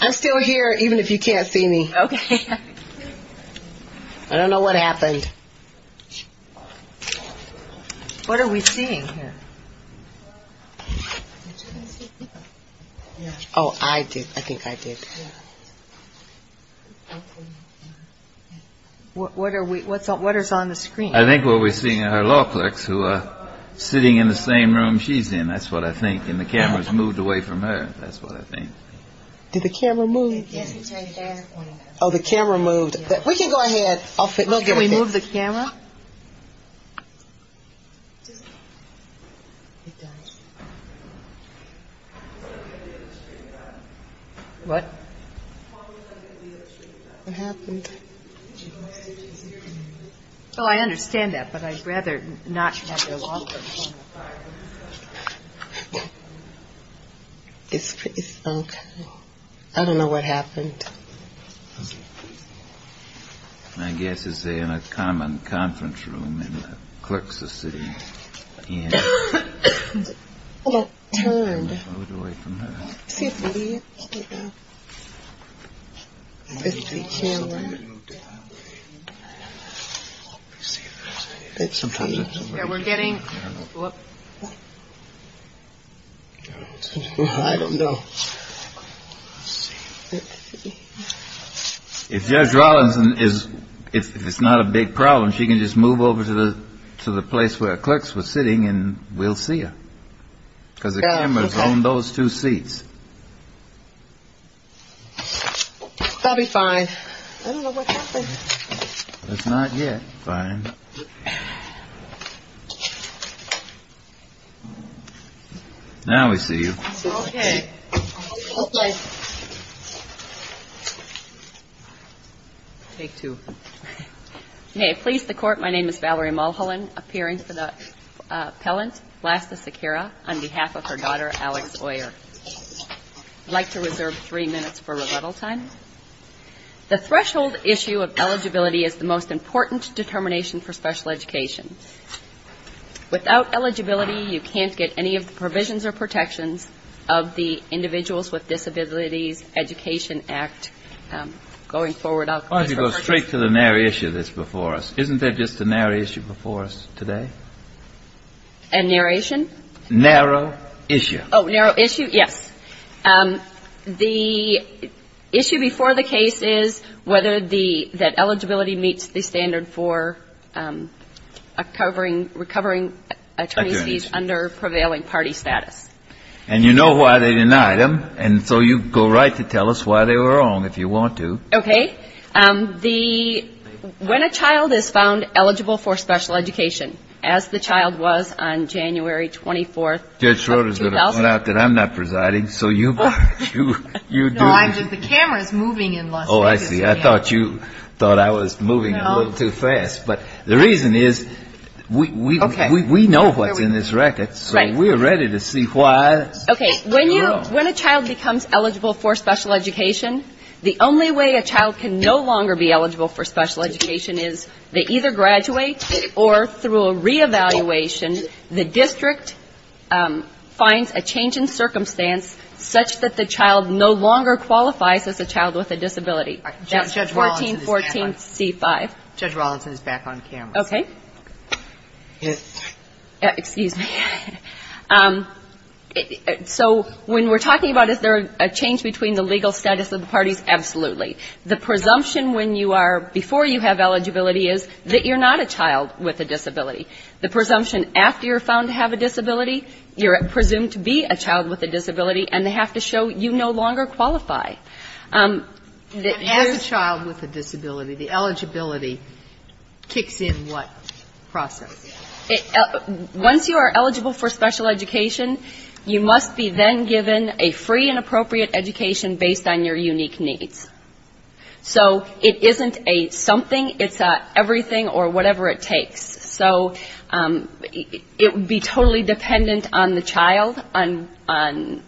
I'm still here even if you can't see me. Okay. I don't know what happened. What are we seeing here? Oh, I did. I think I did. What is on the screen? I think what we're seeing are law clerks who are sitting in the same room she's in. That's what I think. And the camera's moved away from her. That's what I think. Did the camera move? Yes, it's right there. Oh, the camera moved. We can go ahead. Can we move the camera? What? What happened? Oh, I understand that, but I'd rather not have the law clerks. It's pretty sunk. I don't know what happened. I guess it's in a common conference room in the clerks of the city. Oh, it turned. It moved away from her. Let's see if we can see the camera. We're getting. I don't know. Let's see. If Judge Rawlinson, if it's not a big problem, she can just move over to the place where clerks were sitting and we'll see her. Because the camera's on those two seats. That'll be fine. I don't know what happened. It's not yet. Fine. Now we see you. Okay. Take two. May it please the Court, my name is Valerie Mulholland, appearing for the appellant, Blasta Sequeira, on behalf of her daughter, Alex Oyer. I'd like to reserve three minutes for rebuttal time. The threshold issue of eligibility is the most important determination for special education. Without eligibility, you can't get any of the provisions or protections of the Individuals with Disabilities Education Act going forward. I'll go straight to the narrow issue that's before us. Isn't there just a narrow issue before us today? A narration? Narrow issue. Oh, narrow issue, yes. The issue before the case is whether the eligibility meets the standard for recovering attorneys under prevailing party status. And you know why they denied them, and so you go right to tell us why they were wrong, if you want to. Okay. When a child is found eligible for special education, as the child was on January 24th of 2000. Judge Schroeder's going to point out that I'm not presiding, so you do. No, I'm just, the camera's moving in Las Vegas. Oh, I see. I thought you thought I was moving a little too fast. But the reason is we know what's in this record, so we're ready to see why. Okay. When a child becomes eligible for special education, the only way a child can no longer be eligible for special education is they either graduate or through a reevaluation, the district finds a change in circumstance such that the child no longer qualifies as a child with a disability. That's 1414C5. Judge Rollinson is back on camera. Okay. Excuse me. So when we're talking about is there a change between the legal status of the parties, absolutely. The presumption when you are, before you have eligibility is that you're not a child with a disability. The presumption after you're found to have a disability, you're presumed to be a child with a disability, and they have to show you no longer qualify. As a child with a disability, the eligibility kicks in what process? Once you are eligible for special education, you must be then given a free and appropriate education based on your unique needs. So it isn't a something, it's a everything or whatever it takes. So it would be totally dependent on the child, on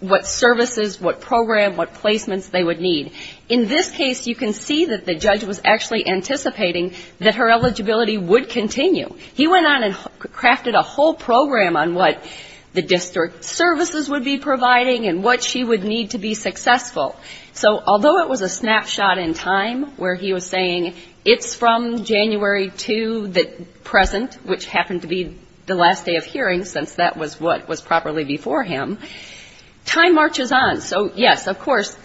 what services, what program, what placements they would need. In this case, you can see that the judge was actually anticipating that her eligibility would continue. He went on and crafted a whole program on what the district services would be providing and what she would need to be successful. So although it was a snapshot in time where he was saying it's from January 2, the present, which happened to be the last day of hearing, since that was what was properly before him, time marches on. So, yes, of course,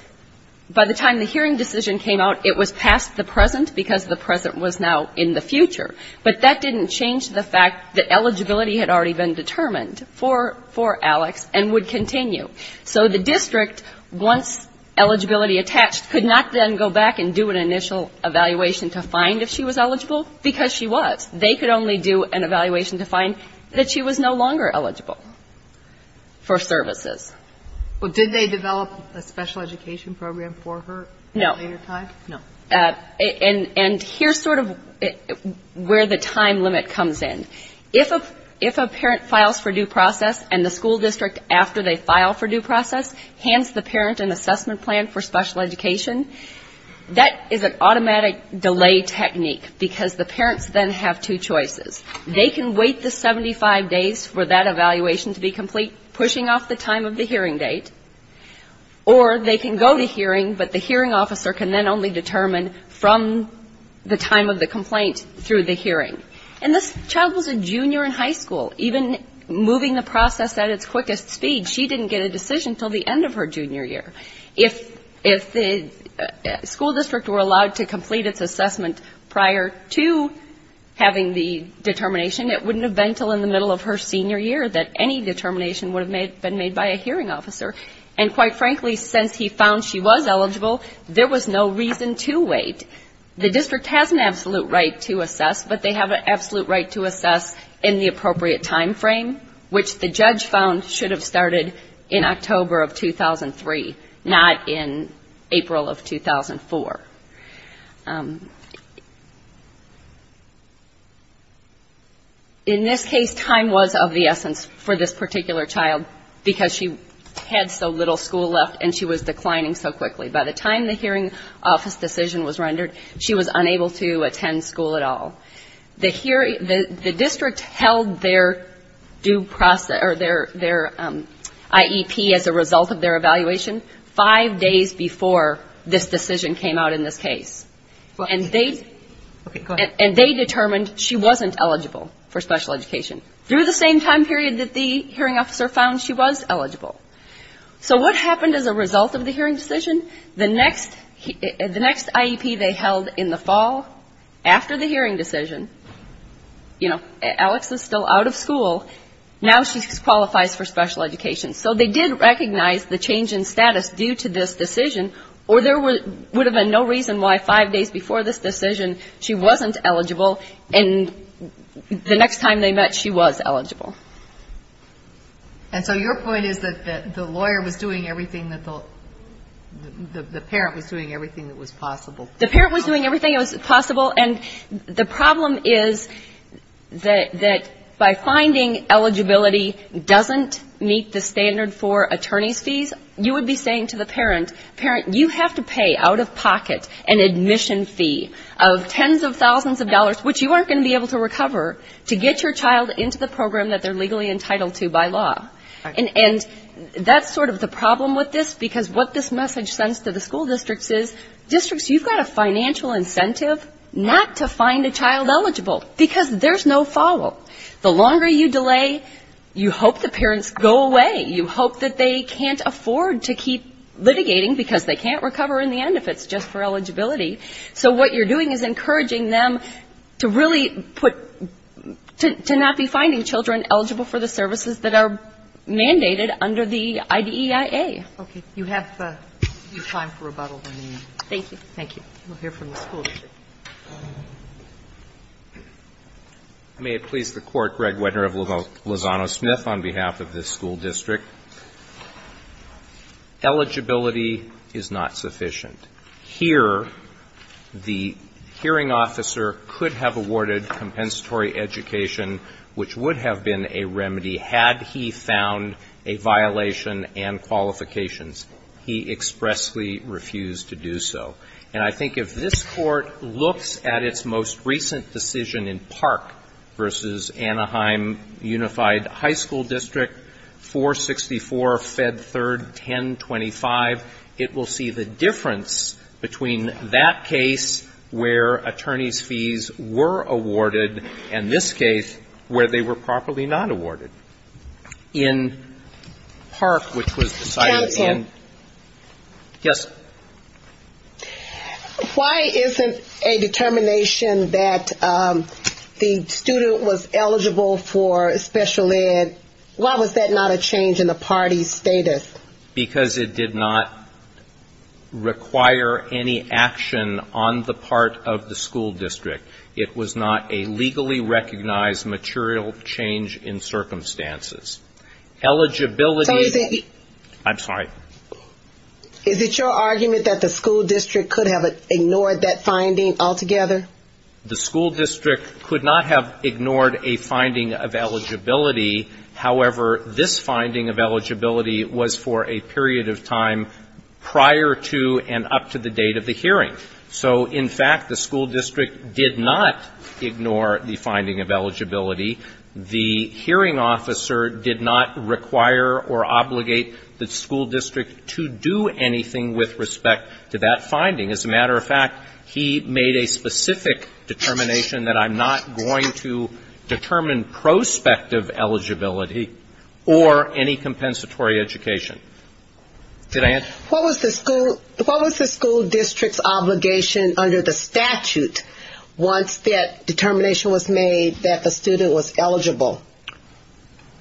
by the time the hearing decision came out, it was past the present because the present was now in the future. But that didn't change the fact that eligibility had already been determined for Alex and would continue. So the district, once eligibility attached, could not then go back and do an initial evaluation to find if she was eligible, because she was. They could only do an evaluation to find that she was no longer eligible for services. Well, did they develop a special education program for her at a later time? No. And here's sort of where the time limit comes in. If a parent files for due process and the school district, after they file for due process, hands the parent an assessment plan for special education, that is an automatic delay technique, because the parents then have two choices. They can wait the 75 days for that evaluation to be complete, pushing off the time of the hearing date, or they can go to hearing, but the decision has to be determined from the time of the complaint through the hearing. And this child was a junior in high school. Even moving the process at its quickest speed, she didn't get a decision until the end of her junior year. If the school district were allowed to complete its assessment prior to having the determination, it wouldn't have been until in the middle of her senior year that any determination would have been made by a hearing officer. And quite frankly, since he found she was eligible, there was no reason to wait. The district has an absolute right to assess, but they have an absolute right to assess in the appropriate time frame, which the judge found should have started in October of 2003, not in April of 2004. In this case, time was of the essence for this particular child, because she had so little school left, and she was declining so quickly. By the time the hearing office decision was rendered, she was unable to attend school at all. The district held their IEP as a result of their evaluation five days before this decision came out in the hearing. And they determined she wasn't eligible for special education. Through the same time period that the hearing officer found she was eligible. So what happened as a result of the hearing decision? The next IEP they held in the fall, after the hearing decision, you know, Alex is still out of school, now she qualifies for special education. So they did recognize the change in status due to this decision, or there would have been no reason why five days before this decision she wasn't eligible, and the next time they met, she was eligible. And so your point is that the lawyer was doing everything that the parent was doing, everything that was possible. The parent was doing everything that was possible, and the problem is that by finding eligibility doesn't meet the standards for attorney's fees, you would be saying to the parent, parent, you have to pay out of pocket an admission fee of tens of thousands of dollars, which you aren't going to be able to recover, to get your child into the program that they're legally entitled to by law. And that's sort of the problem with this, because what this message sends to the school districts is, districts, you've got a financial incentive not to find a child eligible, because there's no follow. The longer you delay, you hope the parents go away. You hope that they can't afford to keep litigating, because they can't recover in the end if it's just for eligibility. So what you're doing is encouraging them to really put to not be finding children eligible for the services that are mandated under the IDEIA. Okay. You have time for rebuttal. Thank you. We'll hear from the school district. May it please the Court, Greg Wedner of Lozano Smith on behalf of this school district. Eligibility is not sufficient. Here, the hearing officer could have awarded compensatory education, which would have been a remedy had he found a violation and qualifications. He expressly refused to do so. And I think if this Court looks at its most recent decision in Park v. Anaheim Unified High School District, 464 Fed 3rd 1025, it will see the difference between that case where attorneys' fees were awarded and this case where they were properly not awarded. In Park, which was decided in yes. Why isn't a determination that the student was eligible for special ed, why was that not a change in the party's status? Because it did not require any action on the part of the school district. It was not a legally recognized material change in circumstances. Eligibility --" I'm sorry. Is it your argument that the school district could have ignored that finding altogether? The school district could not have ignored a finding of eligibility. However, this finding of eligibility was for a period of time prior to and up to the date of the hearing. So, in fact, the school district did not ignore the finding of eligibility. The hearing officer did not require or obligate the school district to do anything with respect to that finding. As a matter of fact, he made a specific determination that I'm not going to determine prospective eligibility or any compensatory education. What was the school district's obligation under the statute once that determination was made that the student was eligible?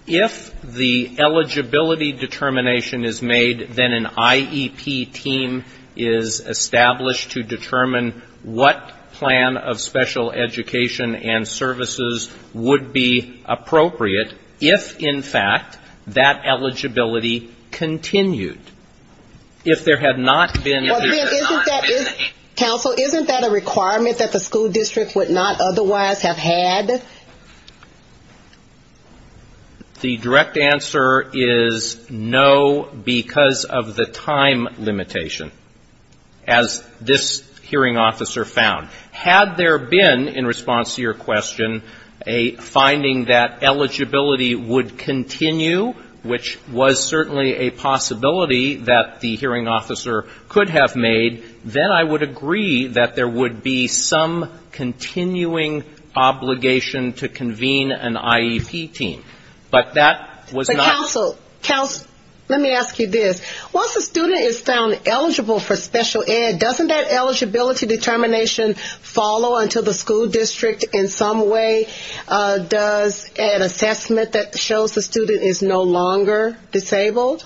If the eligibility determination is made, then an IEP team is established to determine what plan of special education and special education students are eligible for. But if, in fact, that eligibility continued, if there had not been a hearing on it. Counsel, isn't that a requirement that the school district would not otherwise have had? The direct answer is no, because of the time limitation, as this hearing officer found. Had there been, in response to your question, if the eligibility would continue, which was certainly a possibility that the hearing officer could have made, then I would agree that there would be some continuing obligation to convene an IEP team. But that was not the case. Counsel, let me ask you this. Once a student is found eligible for special ed, doesn't that eligibility determination follow until the school district in some way does an assessment that shows the student is no longer disabled?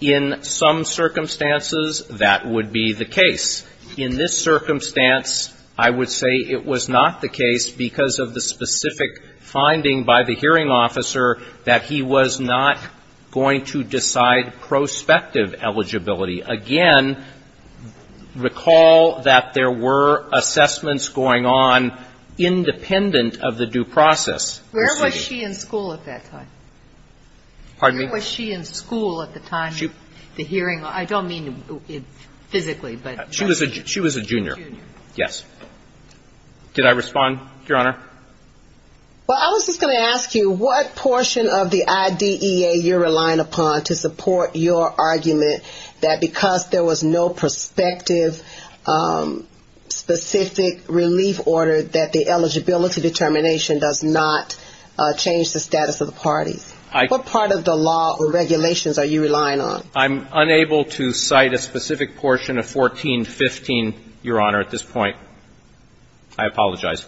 In some circumstances, that would be the case. In this circumstance, I would say it was not the case, because of the specific finding by the hearing officer that he was not going to decide prospective eligibility. Again, recall that there were assessments going on independent of the due process. Where was she in school at that time? Pardon me? Where was she in school at the time of the hearing? I don't mean physically, but... She was a junior, yes. Did I respond, Your Honor? Well, I was just going to ask you, what portion of the IDEA you're relying upon to support your argument that because there was no prospective specific relief order, that the eligibility determination does not change the status of the parties? What part of the law or regulations are you relying on? I'm unable to cite a specific portion of 1415, Your Honor, at this point. I apologize.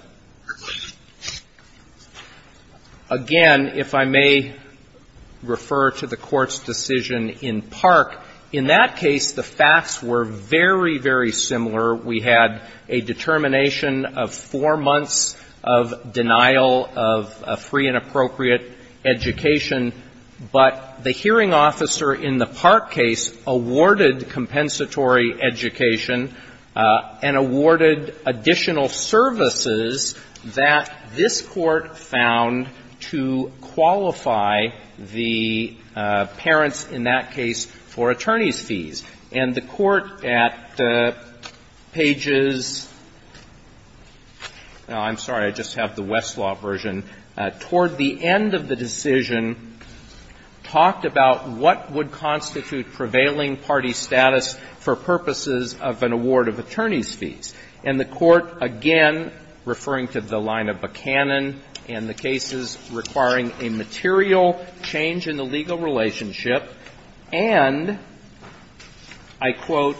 Again, if I may refer to the Court's decision in Park, in that case, the facts were very, very similar. We had a determination of four months of denial of a free and appropriate education, but the hearing officer in the Park case awarded compensatory education and awarded additional services that this Court found to qualify the parents in that case for attorney's fees. And the Court at pages — I'm sorry, I just have the Westlaw version — toward the end of the decision talked about what would constitute prevailing party status for purposes of an award of attorney's fees. And the Court, again, referring to the line of Buchanan and the cases requiring a material change in the legal relationship, and I quote,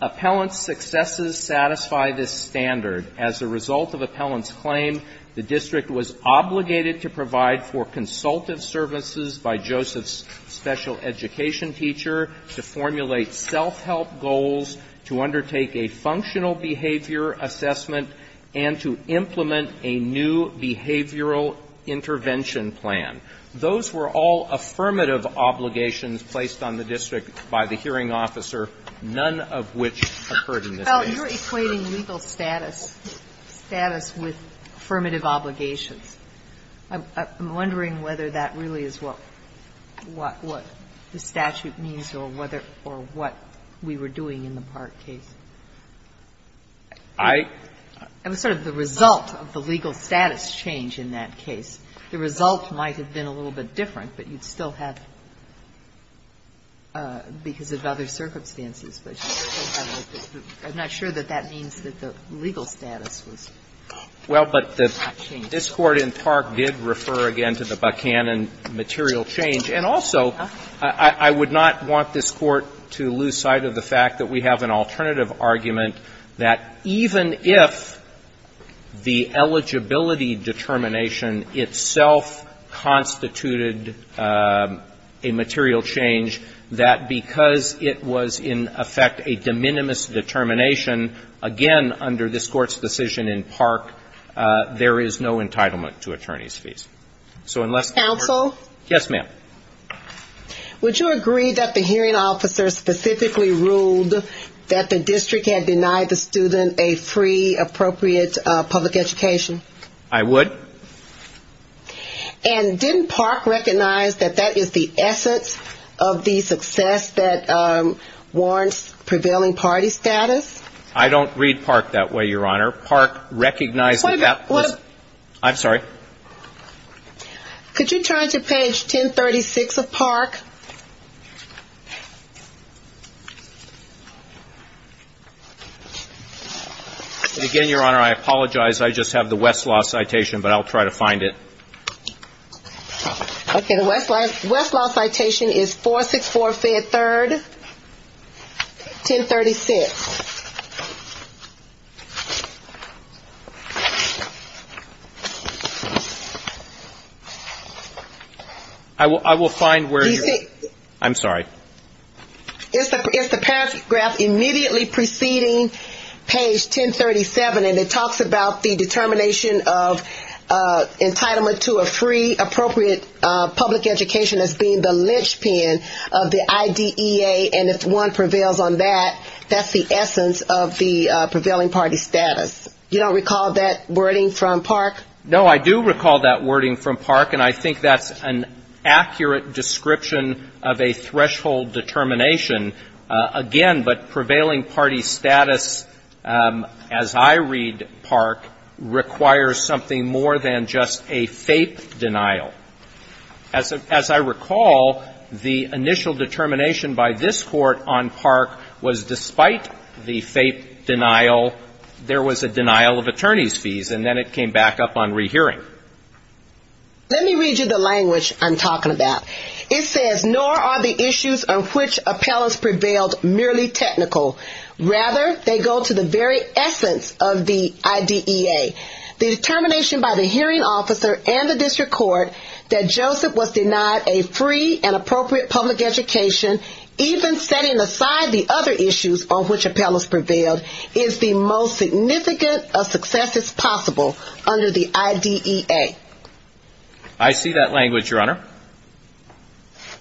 "...appellant's successes satisfy this standard. As a result of appellant's claim, the district was obligated to provide for consultative services by Joseph's special education teacher, to formulate self-help goals, to undertake a functional behavior assessment, and to implement a new behavioral intervention plan. Those were all affirmative obligations placed on the district by the hearing officer, none of which occurred in this case." Well, you're equating legal status, status with affirmative obligations. I'm wondering whether that really is what the statute means or whether — or what we were doing in the Park case. I — It was sort of the result of the legal status change in that case. The result might have been a little bit different, but you'd still have — because of other circumstances, but I'm not sure that that means that the legal status was changed. Well, but this Court in Park did refer again to the Buchanan material change. And also, I would not want this Court to lose sight of the fact that we have an alternative argument that even if the eligibility determination itself constituted a material change, that because it was in effect a de minimis determination, again, under this decision in Park, there is no entitlement to attorney's fees. Counsel? Yes, ma'am. Would you agree that the hearing officer specifically ruled that the district had denied the student a free, appropriate public education? I would. And didn't Park recognize that that is the essence of the success that warrants prevailing party status? I don't read Park that way, Your Honor. Park recognized that that was — Wait a minute. What — I'm sorry? Could you turn to page 1036 of Park? And again, Your Honor, I apologize. I just have the Westlaw citation, but I'll try to find it. Okay. The Westlaw citation is 464 Fed 3rd, 1036. I will find where — I'm sorry. It's the paragraph immediately preceding page 1037, and it talks about the determination of public education as being the linchpin of the IDEA, and if one prevails on that, that's the essence of the prevailing party status. You don't recall that wording from Park? No, I do recall that wording from Park, and I think that's an accurate description of a threshold determination. Again, but prevailing party status, as I read Park, requires something more than just a fake denial. As I recall, the initial determination by this court on Park was despite the fake denial, there was a denial of attorney's fees, and then it came back up on rehearing. Let me read you the language I'm talking about. It says, nor are the issues on which appellants prevailed merely technical. Rather, they go to the very essence of the IDEA. The determination by the hearing officer and the district court that Joseph was denied a free and appropriate public education, even setting aside the other issues on which appellants prevailed, is the most significant of successes possible under the IDEA. I see that language, Your Honor.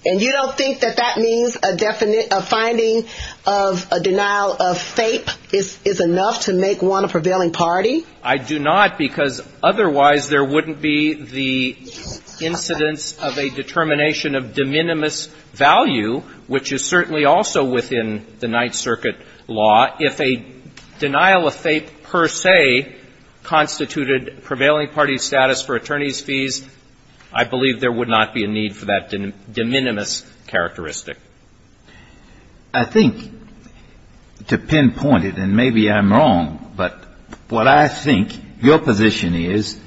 And you don't think that that means a finding of a denial of FAPE is enough to make one a prevailing party? I do not, because otherwise there wouldn't be the incidence of a determination of de minimis value, which is certainly also within the Ninth Circuit law. If a denial of FAPE per se constituted prevailing party status for attorney's fees, I believe there would not be a need for that de minimis characteristic. I think, to pinpoint it, and maybe I'm wrong, but what I think your position is,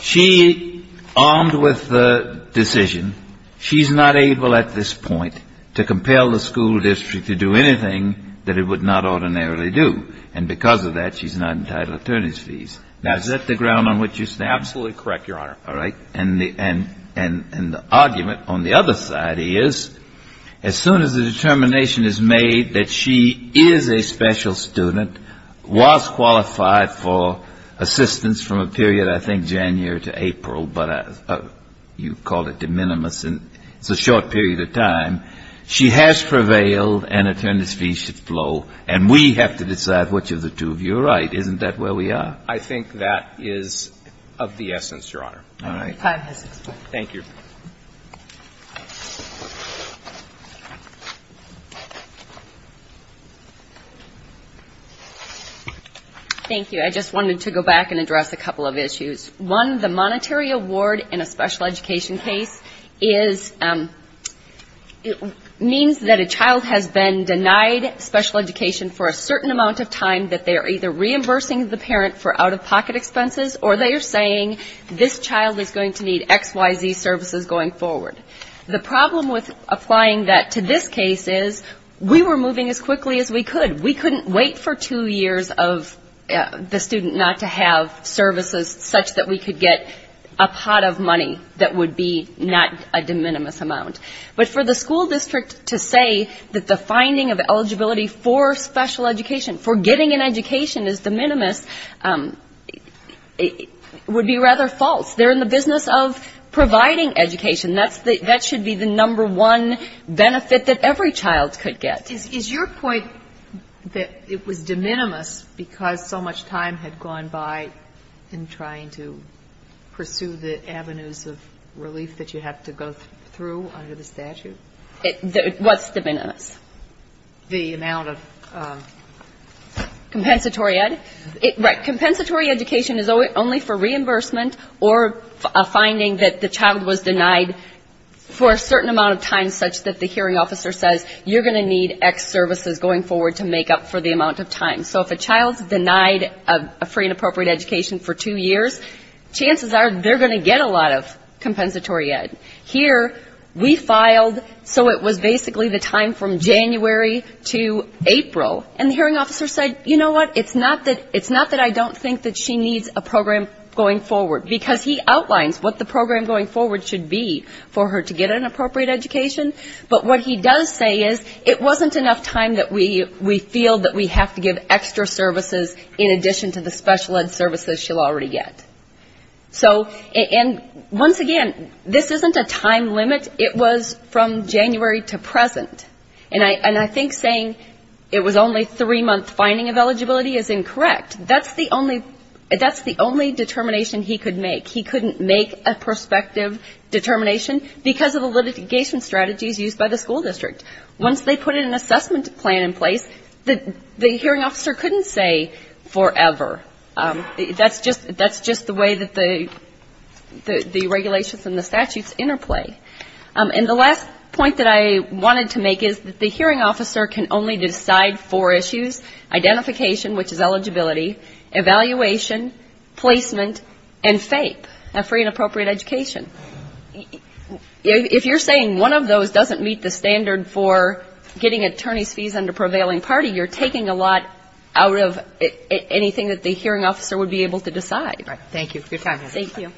she, armed with the decision, she's not able at this point to compel the school district to do anything that it would not ordinarily do. And because of that, she's not entitled to attorney's fees. Now, is that the ground on which you stand? Absolutely correct, Your Honor. All right. And the argument on the other side is, as soon as the determination is made that she is a special student, was qualified for assistance from a period, I think, January to April, but you called it de minimis, and it's a short period of time, she has prevailed and attorney's fees should flow, and we have to decide which of the two of you are right. Isn't that where we are? I think that is of the essence, Your Honor. All right. Thank you. Thank you. I just wanted to go back and address a couple of issues. One, the monetary award in a special education case means that a child has been denied special education for a certain amount of time that they are either reimbursing the parent for out-of-pocket expenses or they are saying this child is going to need X, Y, Z services going forward. The problem with applying that to this case is we were moving as quickly as we could. We couldn't wait for two years of the student not to have services such that we could get a pot of money that would be not a de minimis amount. But for the school district to say that the finding of eligibility for special education, for getting an education is de minimis, would be rather false. They're in the business of providing education. That should be the number one benefit that every child could get. Is your point that it was de minimis because so much time had gone by in trying to pursue the avenues of relief that you have to go through under the statute? What's de minimis? The amount of? Compensatory ed. Right. Compensatory education is only for reimbursement or a finding that the child was denied for a certain amount of time such that the hearing officer says you're going to need X services going forward to make up for the amount of time. So if a child's denied a free and appropriate education for two years, chances are they're going to get a lot of compensatory ed. Here we filed so it was basically the time from January to April, and the hearing officer said, you know what, it's not that I don't think that she needs a program going forward, because he outlines what the program going forward should be for her to get an appropriate education. But what he does say is it wasn't enough time that we feel that we have to give extra services in addition to the special ed. services she'll already get. So, and once again, this isn't a time limit. It was from January to present. And I think saying it was only a three-month finding of eligibility is incorrect. That's the only determination he could make. He couldn't make a prospective determination because of the litigation strategies used by the school district. Once they put an assessment plan in place, the hearing officer couldn't say forever. That's just the way that the regulations and the statutes interplay. And the last point that I wanted to make is that the hearing officer can only decide four issues, identification, which is eligibility, evaluation, placement, and FAPE, free and appropriate education. If you're saying one of those doesn't meet the standard for getting attorney's fees under prevailing party, you're taking a lot out of anything that the hearing officer would be able to decide. Thank you for your time. Thank you.